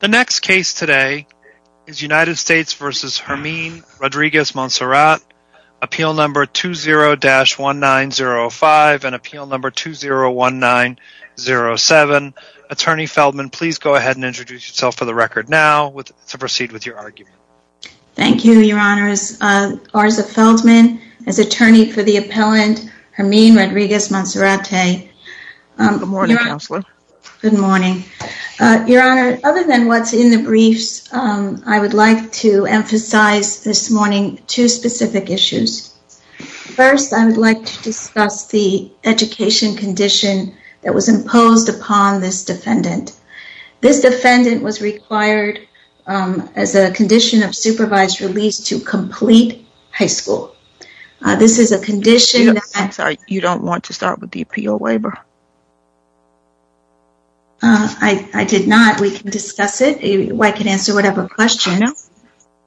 The next case today is United States v. Hermine Rodriguez-Monserrate, appeal number 20-1905 and appeal number 20-1907. Attorney Feldman, please go ahead and introduce yourself for the record now to proceed with your argument. Thank you, Your Honor. Arza Feldman is attorney for the appellant Hermine Rodriguez-Monserrate. Good morning, Counselor. Good morning. Your Honor, other than what's in the briefs, I would like to emphasize this morning two specific issues. First, I would like to discuss the education condition that was imposed upon this defendant. This defendant was required as a condition of supervised release to complete high school. You don't want to start with the appeal waiver? I did not. We can discuss it. I can answer whatever questions.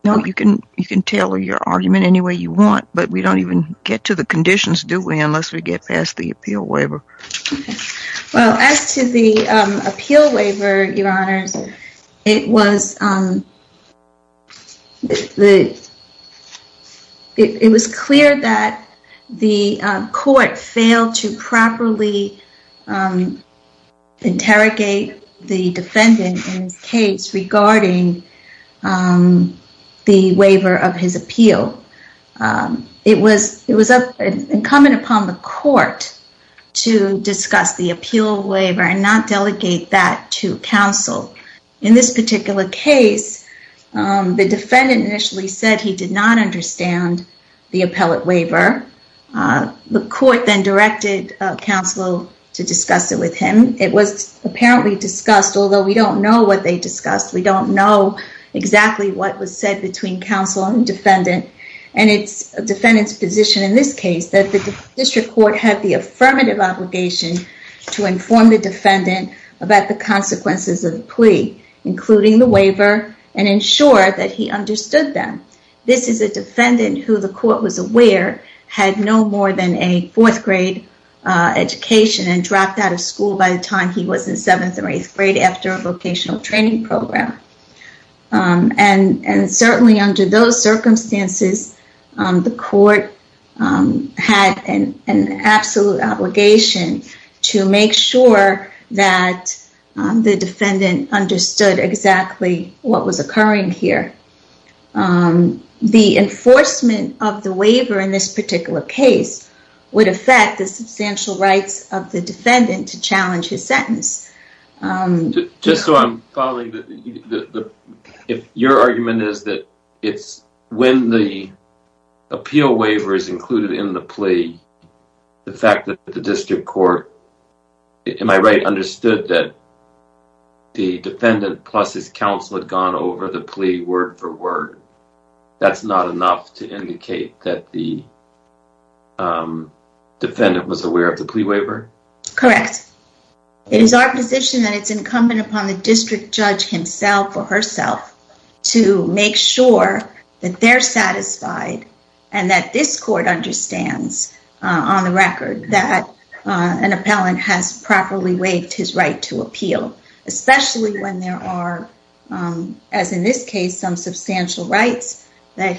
You can tell your argument any way you want, but we don't even get to the conditions, do we, unless we get past the appeal waiver. Well, as to the appeal waiver, Your Honors, it was clear that the court failed to properly interrogate the defendant in his case regarding the waiver of his appeal. It was incumbent upon the court to discuss the appeal waiver and not delegate that to counsel. In this particular case, the defendant initially said he did not understand the appellate waiver. The court then directed counsel to discuss it with him. It was apparently discussed, although we don't know what they discussed. We don't know exactly what was said between counsel and defendant. And it's a defendant's position in this case that the district court had the affirmative obligation to inform the defendant about the consequences of the plea, including the waiver, and ensure that he understood them. This is a defendant who the court was aware had no more than a fourth grade education and dropped out of school by the time he was in seventh or eighth grade after a vocational training program. And certainly under those circumstances, the court had an absolute obligation to make sure that the defendant understood exactly what was occurring here. The enforcement of the waiver in this particular case would affect the substantial rights of the defendant to challenge his sentence. Just so I'm following, your argument is that when the appeal waiver is included in the plea, the fact that the district court, am I right, understood that the defendant plus his counsel had gone over the plea word for word. That's not enough to indicate that the defendant was aware of the plea waiver? Correct. It is our position that it's incumbent upon the district judge himself or herself to make sure that they're satisfied and that this court understands on the record that an appellant has properly waived his right to appeal. Especially when there are, as in this case, some substantial rights that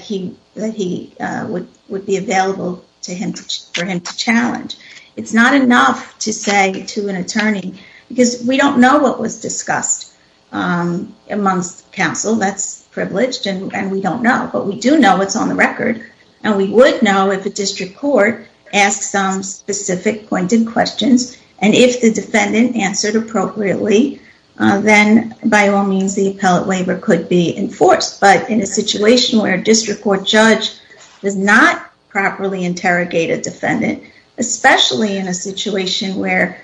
would be available for him to challenge. It's not enough to say to an attorney, because we don't know what was discussed amongst counsel, that's privileged and we don't know, but we do know what's on the record. And we would know if a district court asked some specific pointed questions and if the defendant answered appropriately, then by all means the appellate waiver could be enforced. But in a situation where a district court judge does not properly interrogate a defendant, especially in a situation where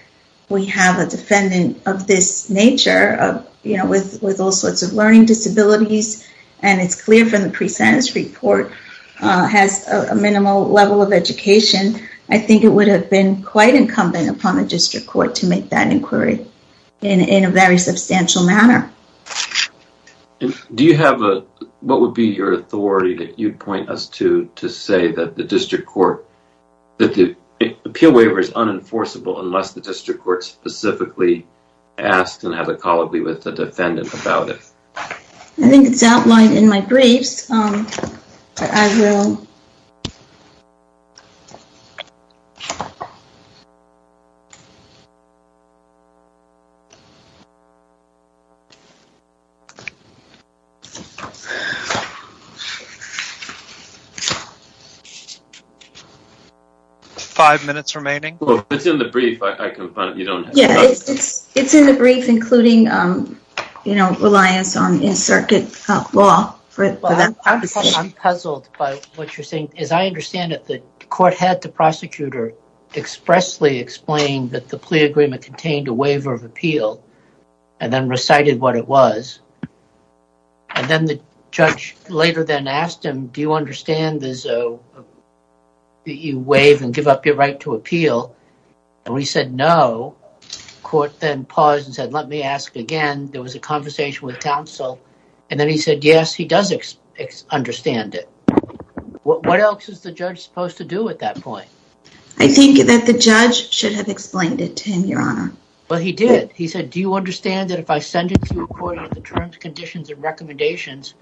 we have a defendant of this nature, with all sorts of learning disabilities, and it's clear from the pre-sentence report, has a minimal level of education, I think it would have been quite incumbent upon the district court to make that inquiry in a very substantial manner. Do you have a, what would be your authority that you'd point us to, to say that the district court, that the appeal waiver is unenforceable unless the district court specifically asks and has a colloquy with the defendant about it? I think it's outlined in my briefs. Five minutes remaining. It's in the brief, I can find it, you don't have to. Yeah, it's in the brief, including, you know, reliance on in circuit law for that. I'm puzzled by what you're saying. As I understand it, the court had the prosecutor expressly explained that the plea agreement contained a waiver of appeal and then recited what it was. And then the judge later then asked him, do you understand that you waive and give up your right to appeal? And he said, no. Court then paused and said, let me ask again. There was a conversation with counsel, and then he said, yes, he does understand it. What else is the judge supposed to do at that point? I think that the judge should have explained it to him, your honor. Well, he did. He said, do you understand that if I sentence you according to the terms, conditions, and recommendations,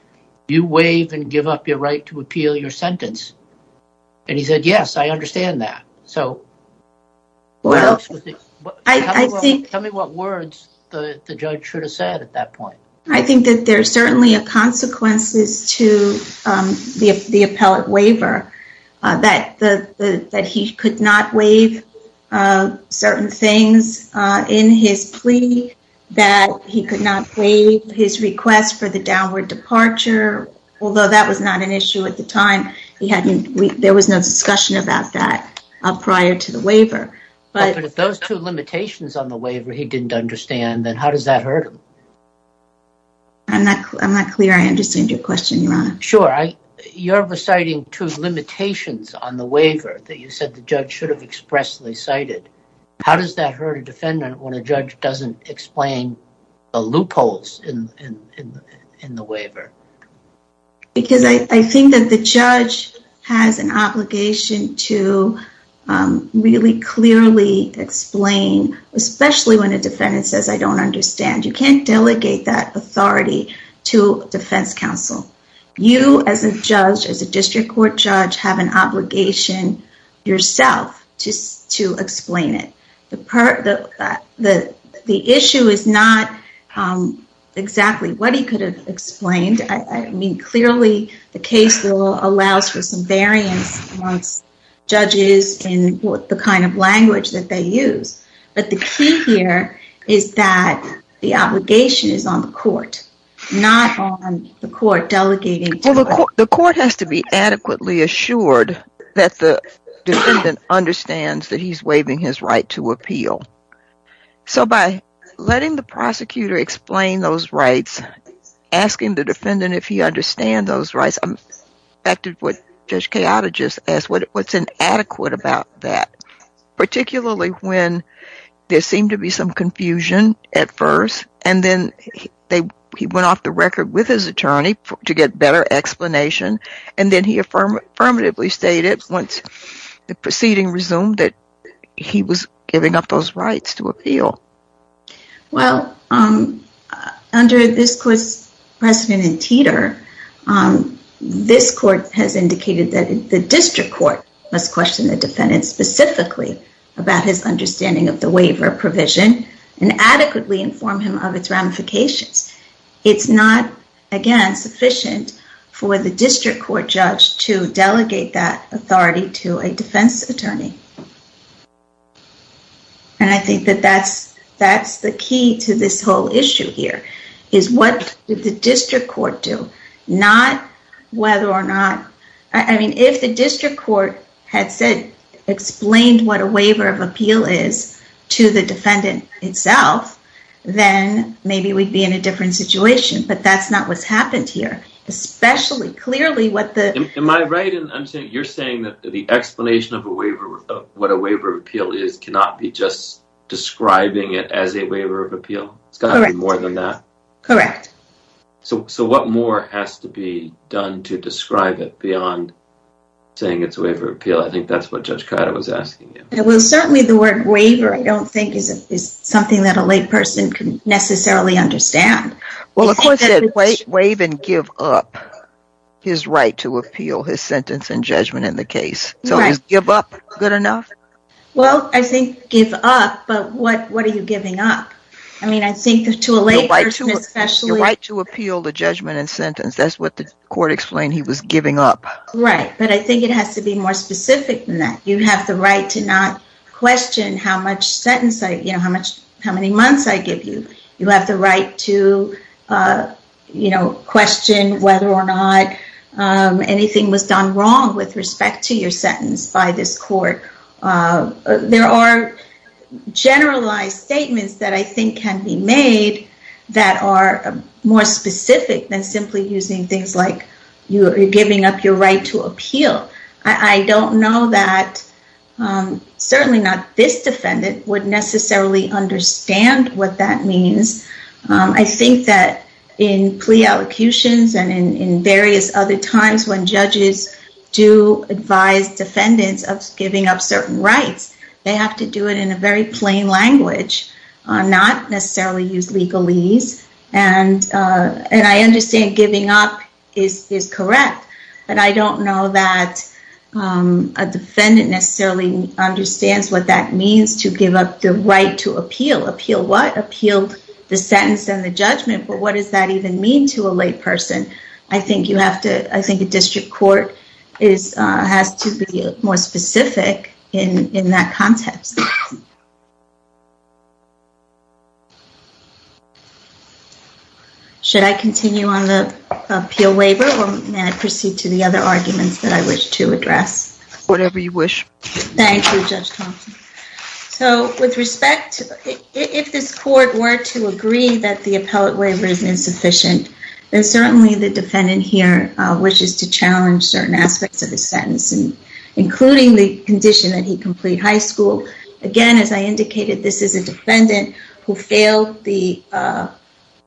you waive and give up your right to appeal your sentence? And he said, yes, I understand that. So. Well, I think. Tell me what words the judge should have said at that point. I think that there are certainly consequences to the appellate waiver, that he could not waive certain things in his plea, that he could not waive his request for the downward departure, although that was not an issue at the time. There was no discussion about that prior to the waiver. But if those two limitations on the waiver he didn't understand, then how does that hurt him? I'm not clear I understand your question, your honor. Sure. You're reciting two limitations on the waiver that you said the judge should have expressly cited. How does that hurt a defendant when a judge doesn't explain the loopholes in the waiver? Because I think that the judge has an obligation to really clearly explain, especially when a defendant says, I don't understand. You can't delegate that authority to defense counsel. You as a judge, as a district court judge, have an obligation yourself to explain it. The issue is not exactly what he could have explained. I mean, clearly the case law allows for some variance amongst judges in the kind of language that they use. But the key here is that the obligation is on the court, not on the court delegating to it. Well, the court has to be adequately assured that the defendant understands that he's waiving his right to appeal. So by letting the prosecutor explain those rights, asking the defendant if he understands those rights, I'm affected with what Judge Kayotta just asked, what's inadequate about that? Particularly when there seemed to be some confusion at first, and then he went off the record with his attorney to get better explanation, and then he affirmatively stated once the proceeding resumed that he was giving up those rights to appeal. Well, under this court's precedent in Teeter, this court has indicated that the district court must question the defendant specifically about his understanding of the waiver provision and adequately inform him of its ramifications. It's not, again, sufficient for the district court judge to delegate that authority to a defense attorney. And I think that that's the key to this whole issue here, is what did the district court do? I mean, if the district court had explained what a waiver of appeal is to the defendant itself, then maybe we'd be in a different situation, but that's not what's happened here. Am I right in saying that you're saying that the explanation of what a waiver of appeal is cannot be just describing it as a waiver of appeal? It's got to be more than that. Correct. So what more has to be done to describe it beyond saying it's a waiver of appeal? I think that's what Judge Cotter was asking you. Well, certainly the word waiver, I don't think, is something that a layperson can necessarily understand. Well, the court said waive and give up his right to appeal his sentence and judgment in the case. So is give up good enough? Well, I think give up, but what are you giving up? Your right to appeal the judgment and sentence, that's what the court explained he was giving up. Right, but I think it has to be more specific than that. You have the right to not question how many months I give you. You have the right to question whether or not anything was done wrong with respect to your sentence by this court. There are generalized statements that I think can be made that are more specific than simply using things like you're giving up your right to appeal. I don't know that certainly not this defendant would necessarily understand what that means. I think that in plea allocutions and in various other times when judges do advise defendants of giving up certain rights, they have to do it in a very plain language, not necessarily use legalese. And I understand giving up is correct, but I don't know that a defendant necessarily understands what that means to give up the right to appeal. Appeal what? Appeal the sentence and the judgment, but what does that even mean to a lay person? I think a district court has to be more specific in that context. Should I continue on the appeal waiver or may I proceed to the other arguments that I wish to address? Whatever you wish. Thank you, Judge Thompson. With respect, if this court were to agree that the appellate waiver is insufficient, then certainly the defendant here wishes to challenge certain aspects of the sentence, including the condition that he complete high school. Again, as I indicated, this is a defendant who failed the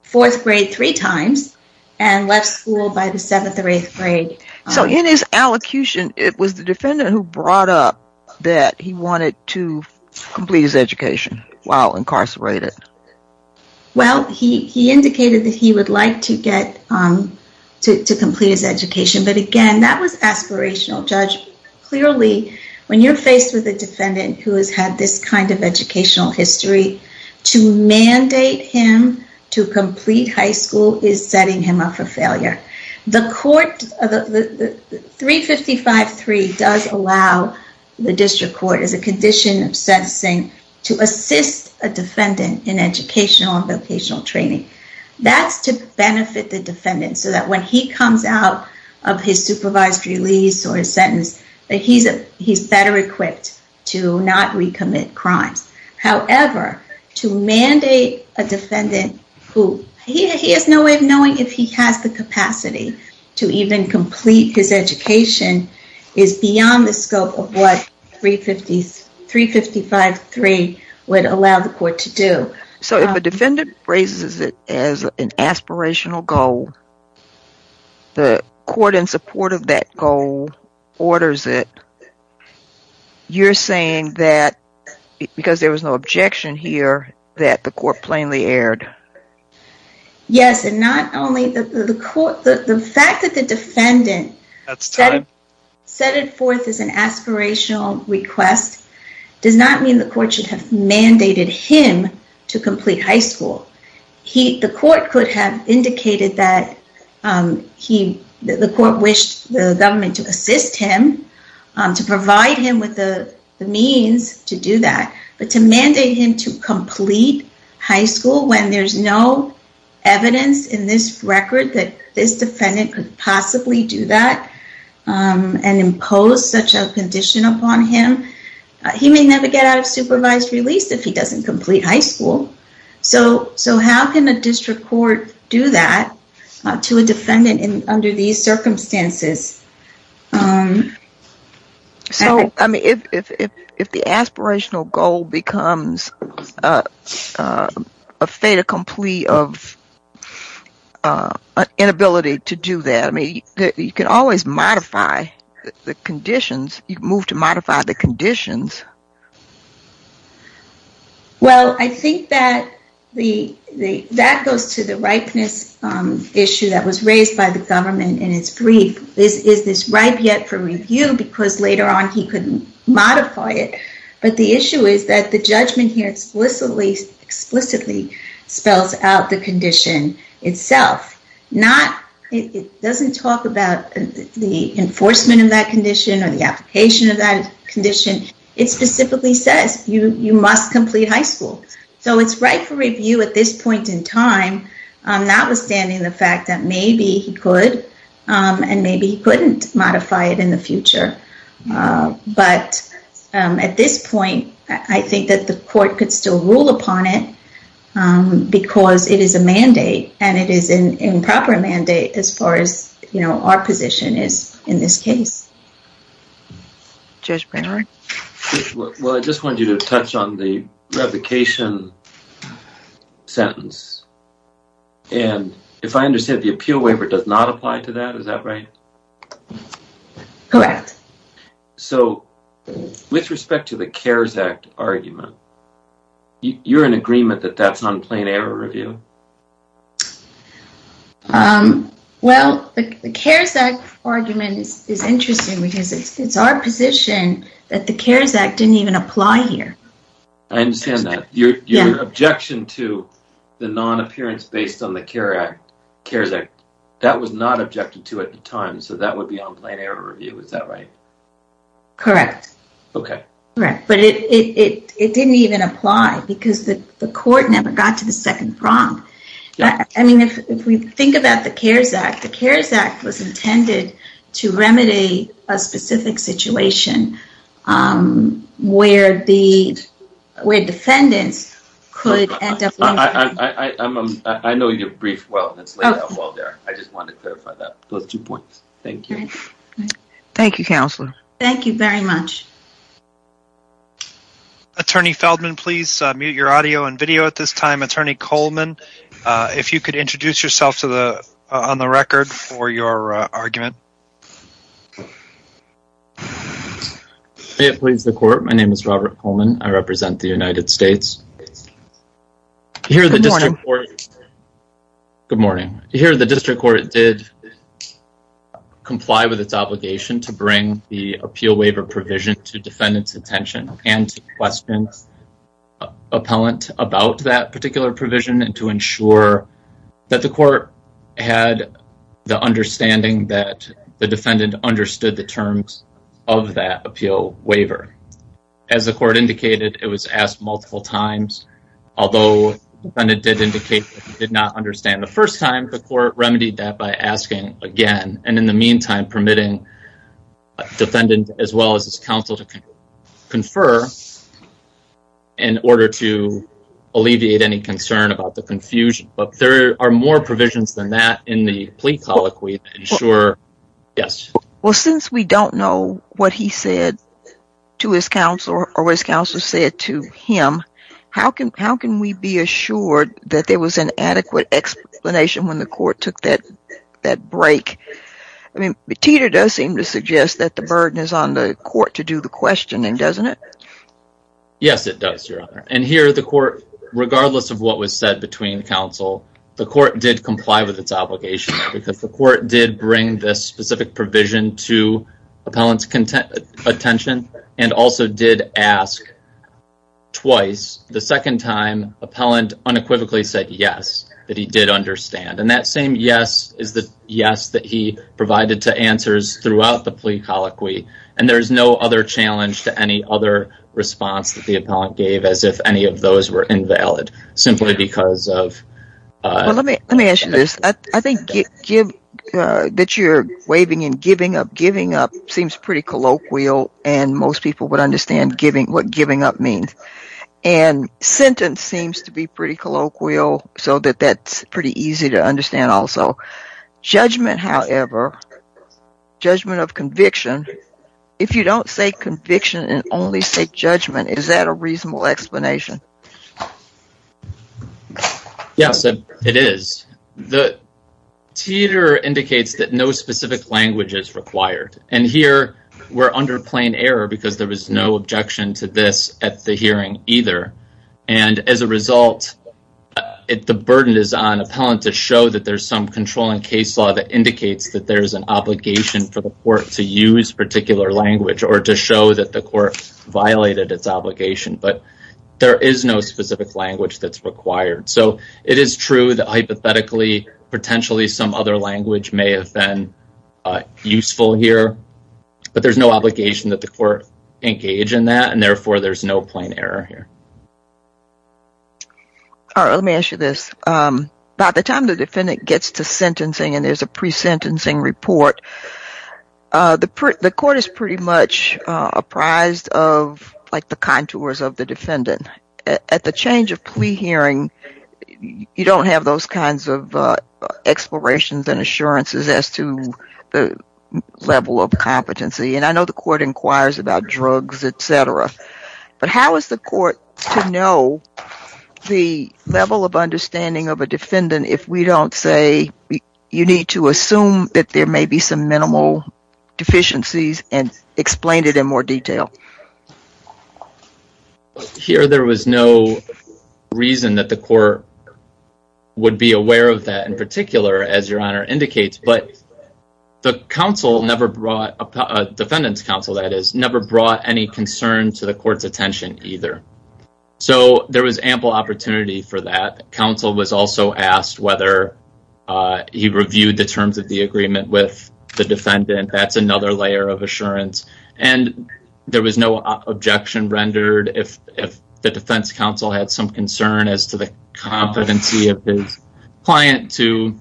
4th grade three times and left school by the 7th or 8th grade. So in his allocution, it was the defendant who brought up that he wanted to complete his education while incarcerated. Well, he indicated that he would like to complete his education, but again, that was aspirational. Judge, clearly when you're faced with a defendant who has had this kind of educational history, to mandate him to complete high school is setting him up for failure. The 355.3 does allow the district court, as a condition of sentencing, to assist a defendant in educational and vocational training. That's to benefit the defendant so that when he comes out of his supervised release or his sentence, that he's better equipped to not recommit crimes. However, to mandate a defendant who he has no way of knowing if he has the capacity to even complete his education is beyond the scope of what 355.3 would allow the court to do. So if a defendant raises it as an aspirational goal, the court in support of that goal orders it. You're saying that because there was no objection here, that the court plainly erred. Yes, and not only the fact that the defendant set it forth as an aspirational request does not mean the court should have mandated him to complete high school. The court could have indicated that the court wished the government to assist him, to provide him with the means to do that, but to mandate him to complete high school when there's no evidence in this record that this defendant could possibly do that and impose such a condition upon him. He may never get out of supervised release if he doesn't complete high school. So how can a district court do that to a defendant under these circumstances? So if the aspirational goal becomes a fait accompli of inability to do that, you can always modify the conditions. You can move to modify the conditions. Well, I think that goes to the ripeness issue that was raised by the government in its brief. Is this ripe yet for review? Because later on he could modify it. But the issue is that the judgment here explicitly spells out the condition itself. It doesn't talk about the enforcement of that condition or the application of that condition. It specifically says you must complete high school. So it's ripe for review at this point in time, notwithstanding the fact that maybe he could and maybe he couldn't modify it in the future. But at this point, I think that the court could still rule upon it because it is a mandate and it is an improper mandate as far as our position is in this case. Judge Brainard? Well, I just wanted you to touch on the revocation sentence. And if I understand, the appeal waiver does not apply to that. Is that right? Correct. So with respect to the CARES Act argument, you're in agreement that that's not a plain error review? Well, the CARES Act argument is interesting because it's our position that the CARES Act didn't even apply here. I understand that. Your objection to the non-appearance based on the CARES Act, that was not objected to at the time, so that would be on plain error review. Is that right? Correct. But it didn't even apply because the court never got to the second prompt. I mean, if we think about the CARES Act, the CARES Act was intended to remedy a specific situation where defendants could end up... I know your brief well, it's laid out well there. I just wanted to clarify those two points. Thank you. Thank you, Counselor. Thank you very much. Attorney Feldman, please mute your audio and video at this time. Attorney Coleman, if you could introduce yourself on the record for your argument. May it please the court, my name is Robert Coleman. I represent the United States. Good morning. Good morning. Here, the district court did comply with its obligation to bring the appeal waiver provision to defendant's attention and to questions appellant about that particular provision and to ensure that the court had the understanding that the defendant understood the terms of that appeal waiver. As the court indicated, it was asked multiple times. Although the defendant did indicate that he did not understand the first time, the court remedied that by asking again. And in the meantime, permitting defendant as well as his counsel to confer in order to alleviate any concern about the confusion. But there are more provisions than that in the plea colloquy to ensure... Well, since we don't know what he said to his counsel or what his counsel said to him, how can we be assured that there was an adequate explanation when the court took that break? I mean, Tita does seem to suggest that the burden is on the court to do the questioning, doesn't it? Yes, it does, Your Honor. And here, the court, regardless of what was said between counsel, the court did comply with its obligation because the court did bring this specific provision to appellant's attention and also did ask twice. The second time, appellant unequivocally said yes, that he did understand. And that same yes is the yes that he provided to answers throughout the plea colloquy. And there is no other challenge to any other response that the appellant gave as if any of those were invalid, simply because of... ...that you're waving in giving up. Giving up seems pretty colloquial, and most people would understand what giving up means. And sentence seems to be pretty colloquial, so that that's pretty easy to understand also. Judgment, however, judgment of conviction, if you don't say conviction and only say judgment, is that a reasonable explanation? Yes, it is. The teeter indicates that no specific language is required. And here, we're under plain error because there was no objection to this at the hearing either. And as a result, the burden is on appellant to show that there's some controlling case law that indicates that there's an obligation for the court to use particular language or to show that the court violated its obligation. But there is no specific language that's required. So it is true that hypothetically, potentially, some other language may have been useful here. But there's no obligation that the court engage in that, and therefore, there's no plain error here. All right, let me ask you this. By the time the defendant gets to sentencing and there's a pre-sentencing report, the court is pretty much apprised of, like, the contours of the defendant. At the change of plea hearing, you don't have those kinds of explorations and assurances as to the level of competency. And I know the court inquires about drugs, et cetera. But how is the court to know the level of understanding of a defendant if we don't say you need to assume that there may be some minimal deficiencies and explain it in more detail? Here, there was no reason that the court would be aware of that, in particular, as Your Honor indicates. But the counsel never brought, defendant's counsel, that is, never brought any concern to the court's attention either. So there was ample opportunity for that. Counsel was also asked whether he reviewed the terms of the agreement with the defendant. That's another layer of assurance. And there was no objection rendered. If the defense counsel had some concern as to the competency of his client to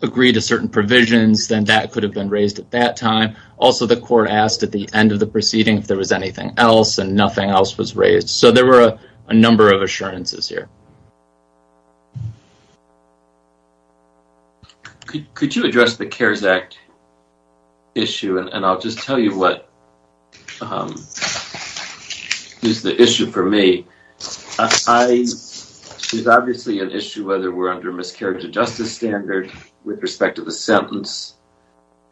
agree to certain provisions, then that could have been raised at that time. Also, the court asked at the end of the proceeding if there was anything else, and nothing else was raised. So there were a number of assurances here. Could you address the CARES Act issue? And I'll just tell you what is the issue for me. There's obviously an issue whether we're under miscarriage of justice standard with respect to the sentence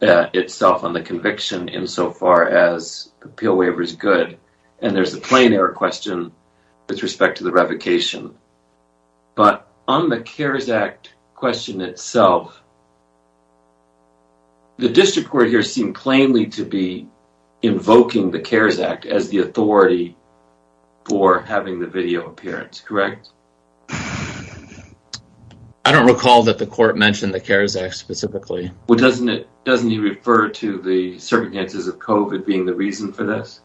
itself on the conviction insofar as the appeal waiver is good. And there's a plain error question with respect to the revocation. But on the CARES Act question itself, the district court here seemed plainly to be invoking the CARES Act as the authority for having the video appearance, correct? I don't recall that the court mentioned the CARES Act specifically. Well, doesn't it refer to the circumstances of COVID being the reason for this?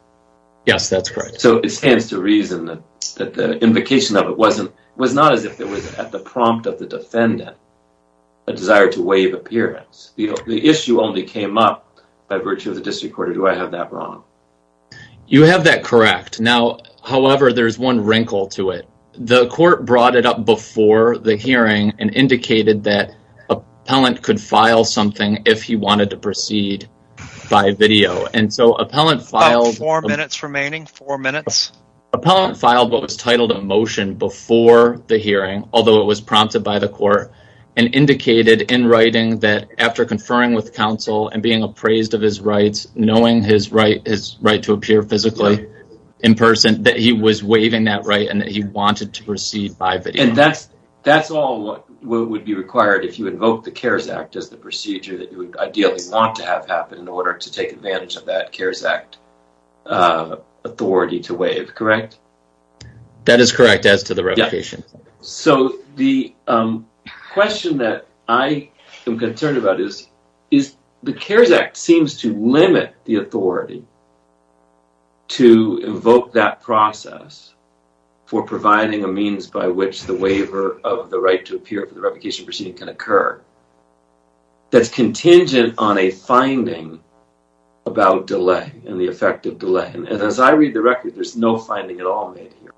Yes, that's correct. So it stands to reason that the invocation of it was not as if it was at the prompt of the defendant, a desire to waive appearance. The issue only came up by virtue of the district court. Do I have that wrong? You have that correct. Now, however, there's one wrinkle to it. The court brought it up before the hearing and indicated that an appellant could file something if he wanted to proceed by video. About four minutes remaining, four minutes. Appellant filed what was titled a motion before the hearing, although it was prompted by the court, and indicated in writing that after conferring with counsel and being appraised of his rights, knowing his right to appear physically in person, that he was waiving that right and that he wanted to proceed by video. And that's all what would be required if you invoke the CARES Act as the procedure that you would ideally want to have happen in order to take advantage of that CARES Act authority to waive, correct? That is correct as to the revocation. So the question that I am concerned about is, the CARES Act seems to limit the authority to invoke that process for providing a means by which the waiver of the right to appear for the revocation proceeding can occur. That's contingent on a finding about delay and the effect of delay. And as I read the record, there's no finding at all made here.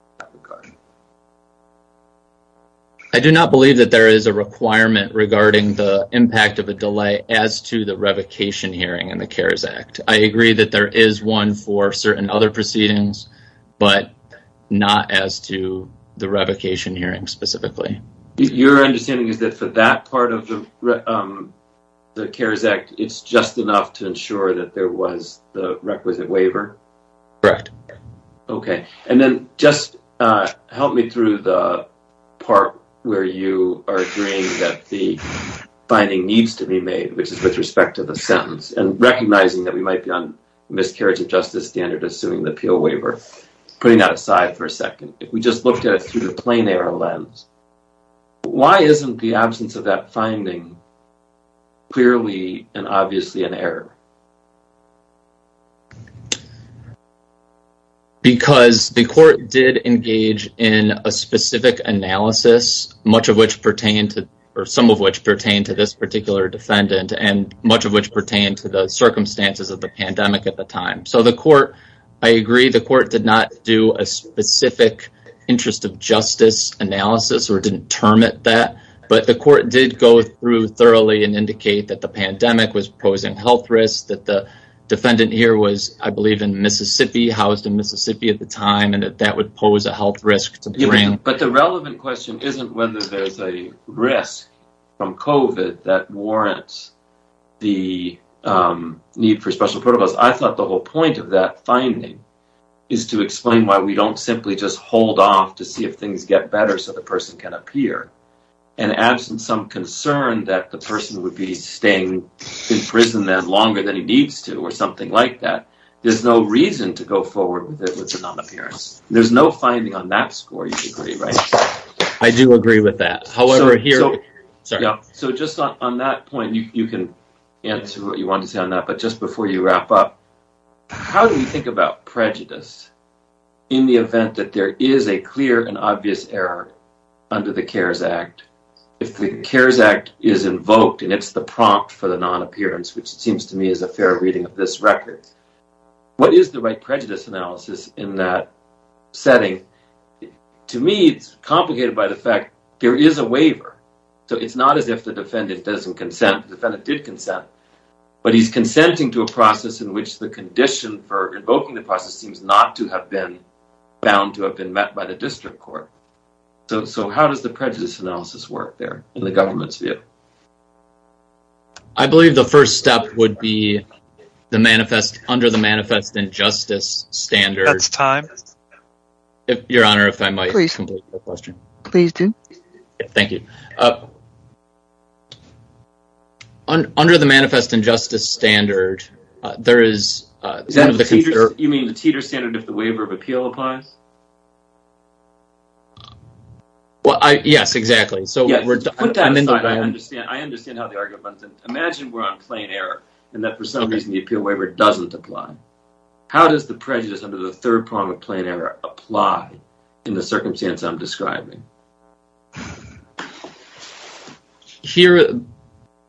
I do not believe that there is a requirement regarding the impact of a delay as to the revocation hearing in the CARES Act. I agree that there is one for certain other proceedings, but not as to the revocation hearing specifically. Your understanding is that for that part of the CARES Act, it's just enough to ensure that there was the requisite waiver? Correct. Okay. And then just help me through the part where you are agreeing that the finding needs to be made, which is with respect to the sentence, and recognizing that we might be on miscarriage of justice standard assuming the appeal waiver, putting that aside for a second. If we just looked at it through the plain error lens, why isn't the absence of that finding clearly and obviously an error? Because the court did engage in a specific analysis, much of which pertain to, or some of which pertain to this particular defendant and much of which pertain to the circumstances of the pandemic at the time. So the court, I agree, the court did not do a specific interest of justice analysis or determine that, but the court did go through thoroughly and indicate that the pandemic was posing health risks, that the defendant here was, I believe, in Mississippi, housed in Mississippi at the time, and that that would pose a health risk. But the relevant question isn't whether there's a risk from COVID that warrants the need for special protocols. I thought the whole point of that finding is to explain why we don't simply just hold off to see if things get better so the person can appear. And absent some concern that the person would be staying in prison longer than he needs to or something like that, there's no reason to go forward with a non-appearance. There's no finding on that score, you agree, right? I do agree with that. So just on that point, you can answer what you want to say on that, but just before you wrap up, how do you think about prejudice in the event that there is a clear and obvious error under the CARES Act? If the CARES Act is invoked and it's the prompt for the non-appearance, which seems to me is a fair reading of this record, what is the right prejudice analysis in that setting? To me, it's complicated by the fact there is a waiver. So it's not as if the defendant doesn't consent. The defendant did consent, but he's consenting to a process in which the condition for invoking the process seems not to have been bound to have been met by the district court. So how does the prejudice analysis work there in the government's view? I believe the first step would be under the Manifest Injustice Standards. That's time. Your Honor, if I might complete the question. Please do. Thank you. Under the Manifest Injustice Standard, there is some of the concerns. You mean the Teeter Standard if the waiver of appeal applies? Yes, exactly. I understand how the argument runs. Imagine we're on plain error and that for some reason the appeal waiver doesn't apply. How does the prejudice under the third prong of plain error apply in the circumstance I'm describing? Here,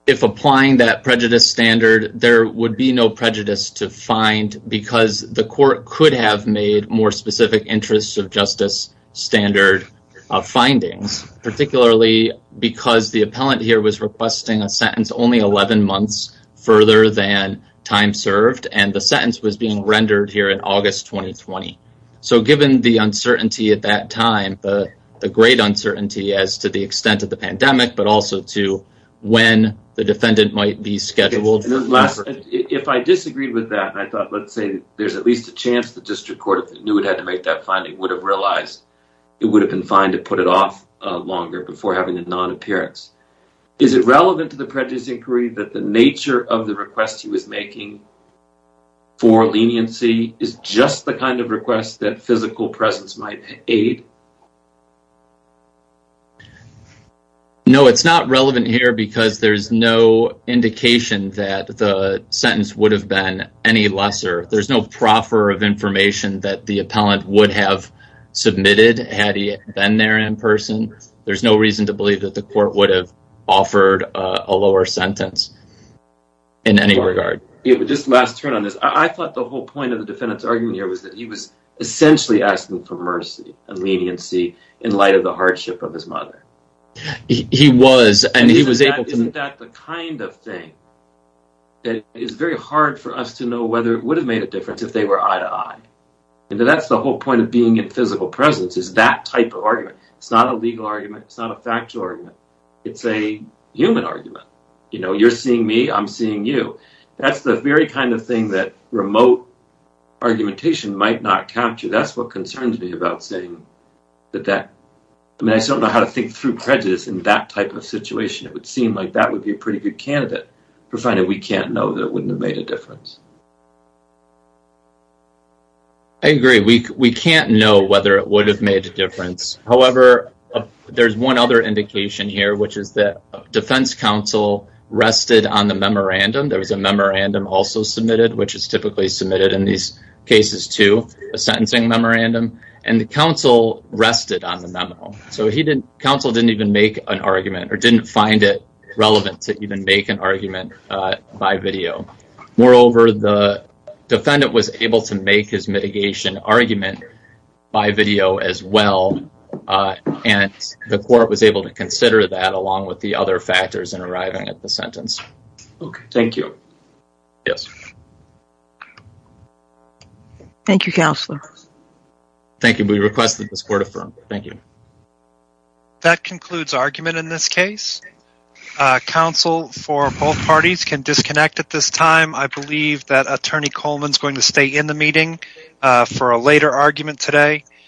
if applying that prejudice standard, there would be no prejudice to find because the court could have made more specific interests of justice standard findings, particularly because the appellant here was requesting a sentence only 11 months further than time served, and the sentence was being rendered here in August 2020. So given the uncertainty at that time, the great uncertainty as to the extent of the pandemic, but also to when the defendant might be scheduled. If I disagreed with that and I thought, let's say, there's at least a chance the district court, if it knew it had to make that finding, would have realized it would have been fine to put it off longer before having a non-appearance. Is it relevant to the prejudice inquiry that the nature of the request he was making for leniency is just the kind of request that physical presence might aid? No, it's not relevant here because there's no indication that the sentence would have been any lesser. There's no proffer of information that the appellant would have submitted had he been there in person. There's no reason to believe that the court would have offered a lower sentence in any regard. Just last turn on this. I thought the whole point of the defendant's argument here was that he was essentially asking for mercy and leniency in light of the hardship of his mother. He was, and he was able to. Isn't that the kind of thing that is very hard for us to know whether it would have made a difference if they were eye to eye. And that's the whole point of being in physical presence is that type of argument. It's not a legal argument. It's not a factual argument. It's a human argument. You know, you're seeing me, I'm seeing you. That's the very kind of thing that remote argumentation might not capture. That's what concerns me about saying that that, I mean, I still don't know how to think through prejudice in that type of situation. It would seem like that would be a pretty good candidate for finding we can't know that it wouldn't have made a difference. I agree. We can't know whether it would have made a difference. However, there's one other indication here, which is that defense counsel rested on the memorandum. There was a memorandum also submitted, which is typically submitted in these cases too, a sentencing memorandum. And the counsel rested on the memo. So counsel didn't even make an argument or didn't find it relevant to even make an argument by video. Moreover, the defendant was able to make his mitigation argument by video as well. And the court was able to consider that along with the other factors in arriving at the sentence. Okay. Thank you. Yes. Thank you. Counselor. Thank you. We requested this court affirmed. Thank you. That concludes argument in this case. Counsel for both parties can disconnect at this time. I believe that attorney Coleman's going to stay in the meeting for a later argument today.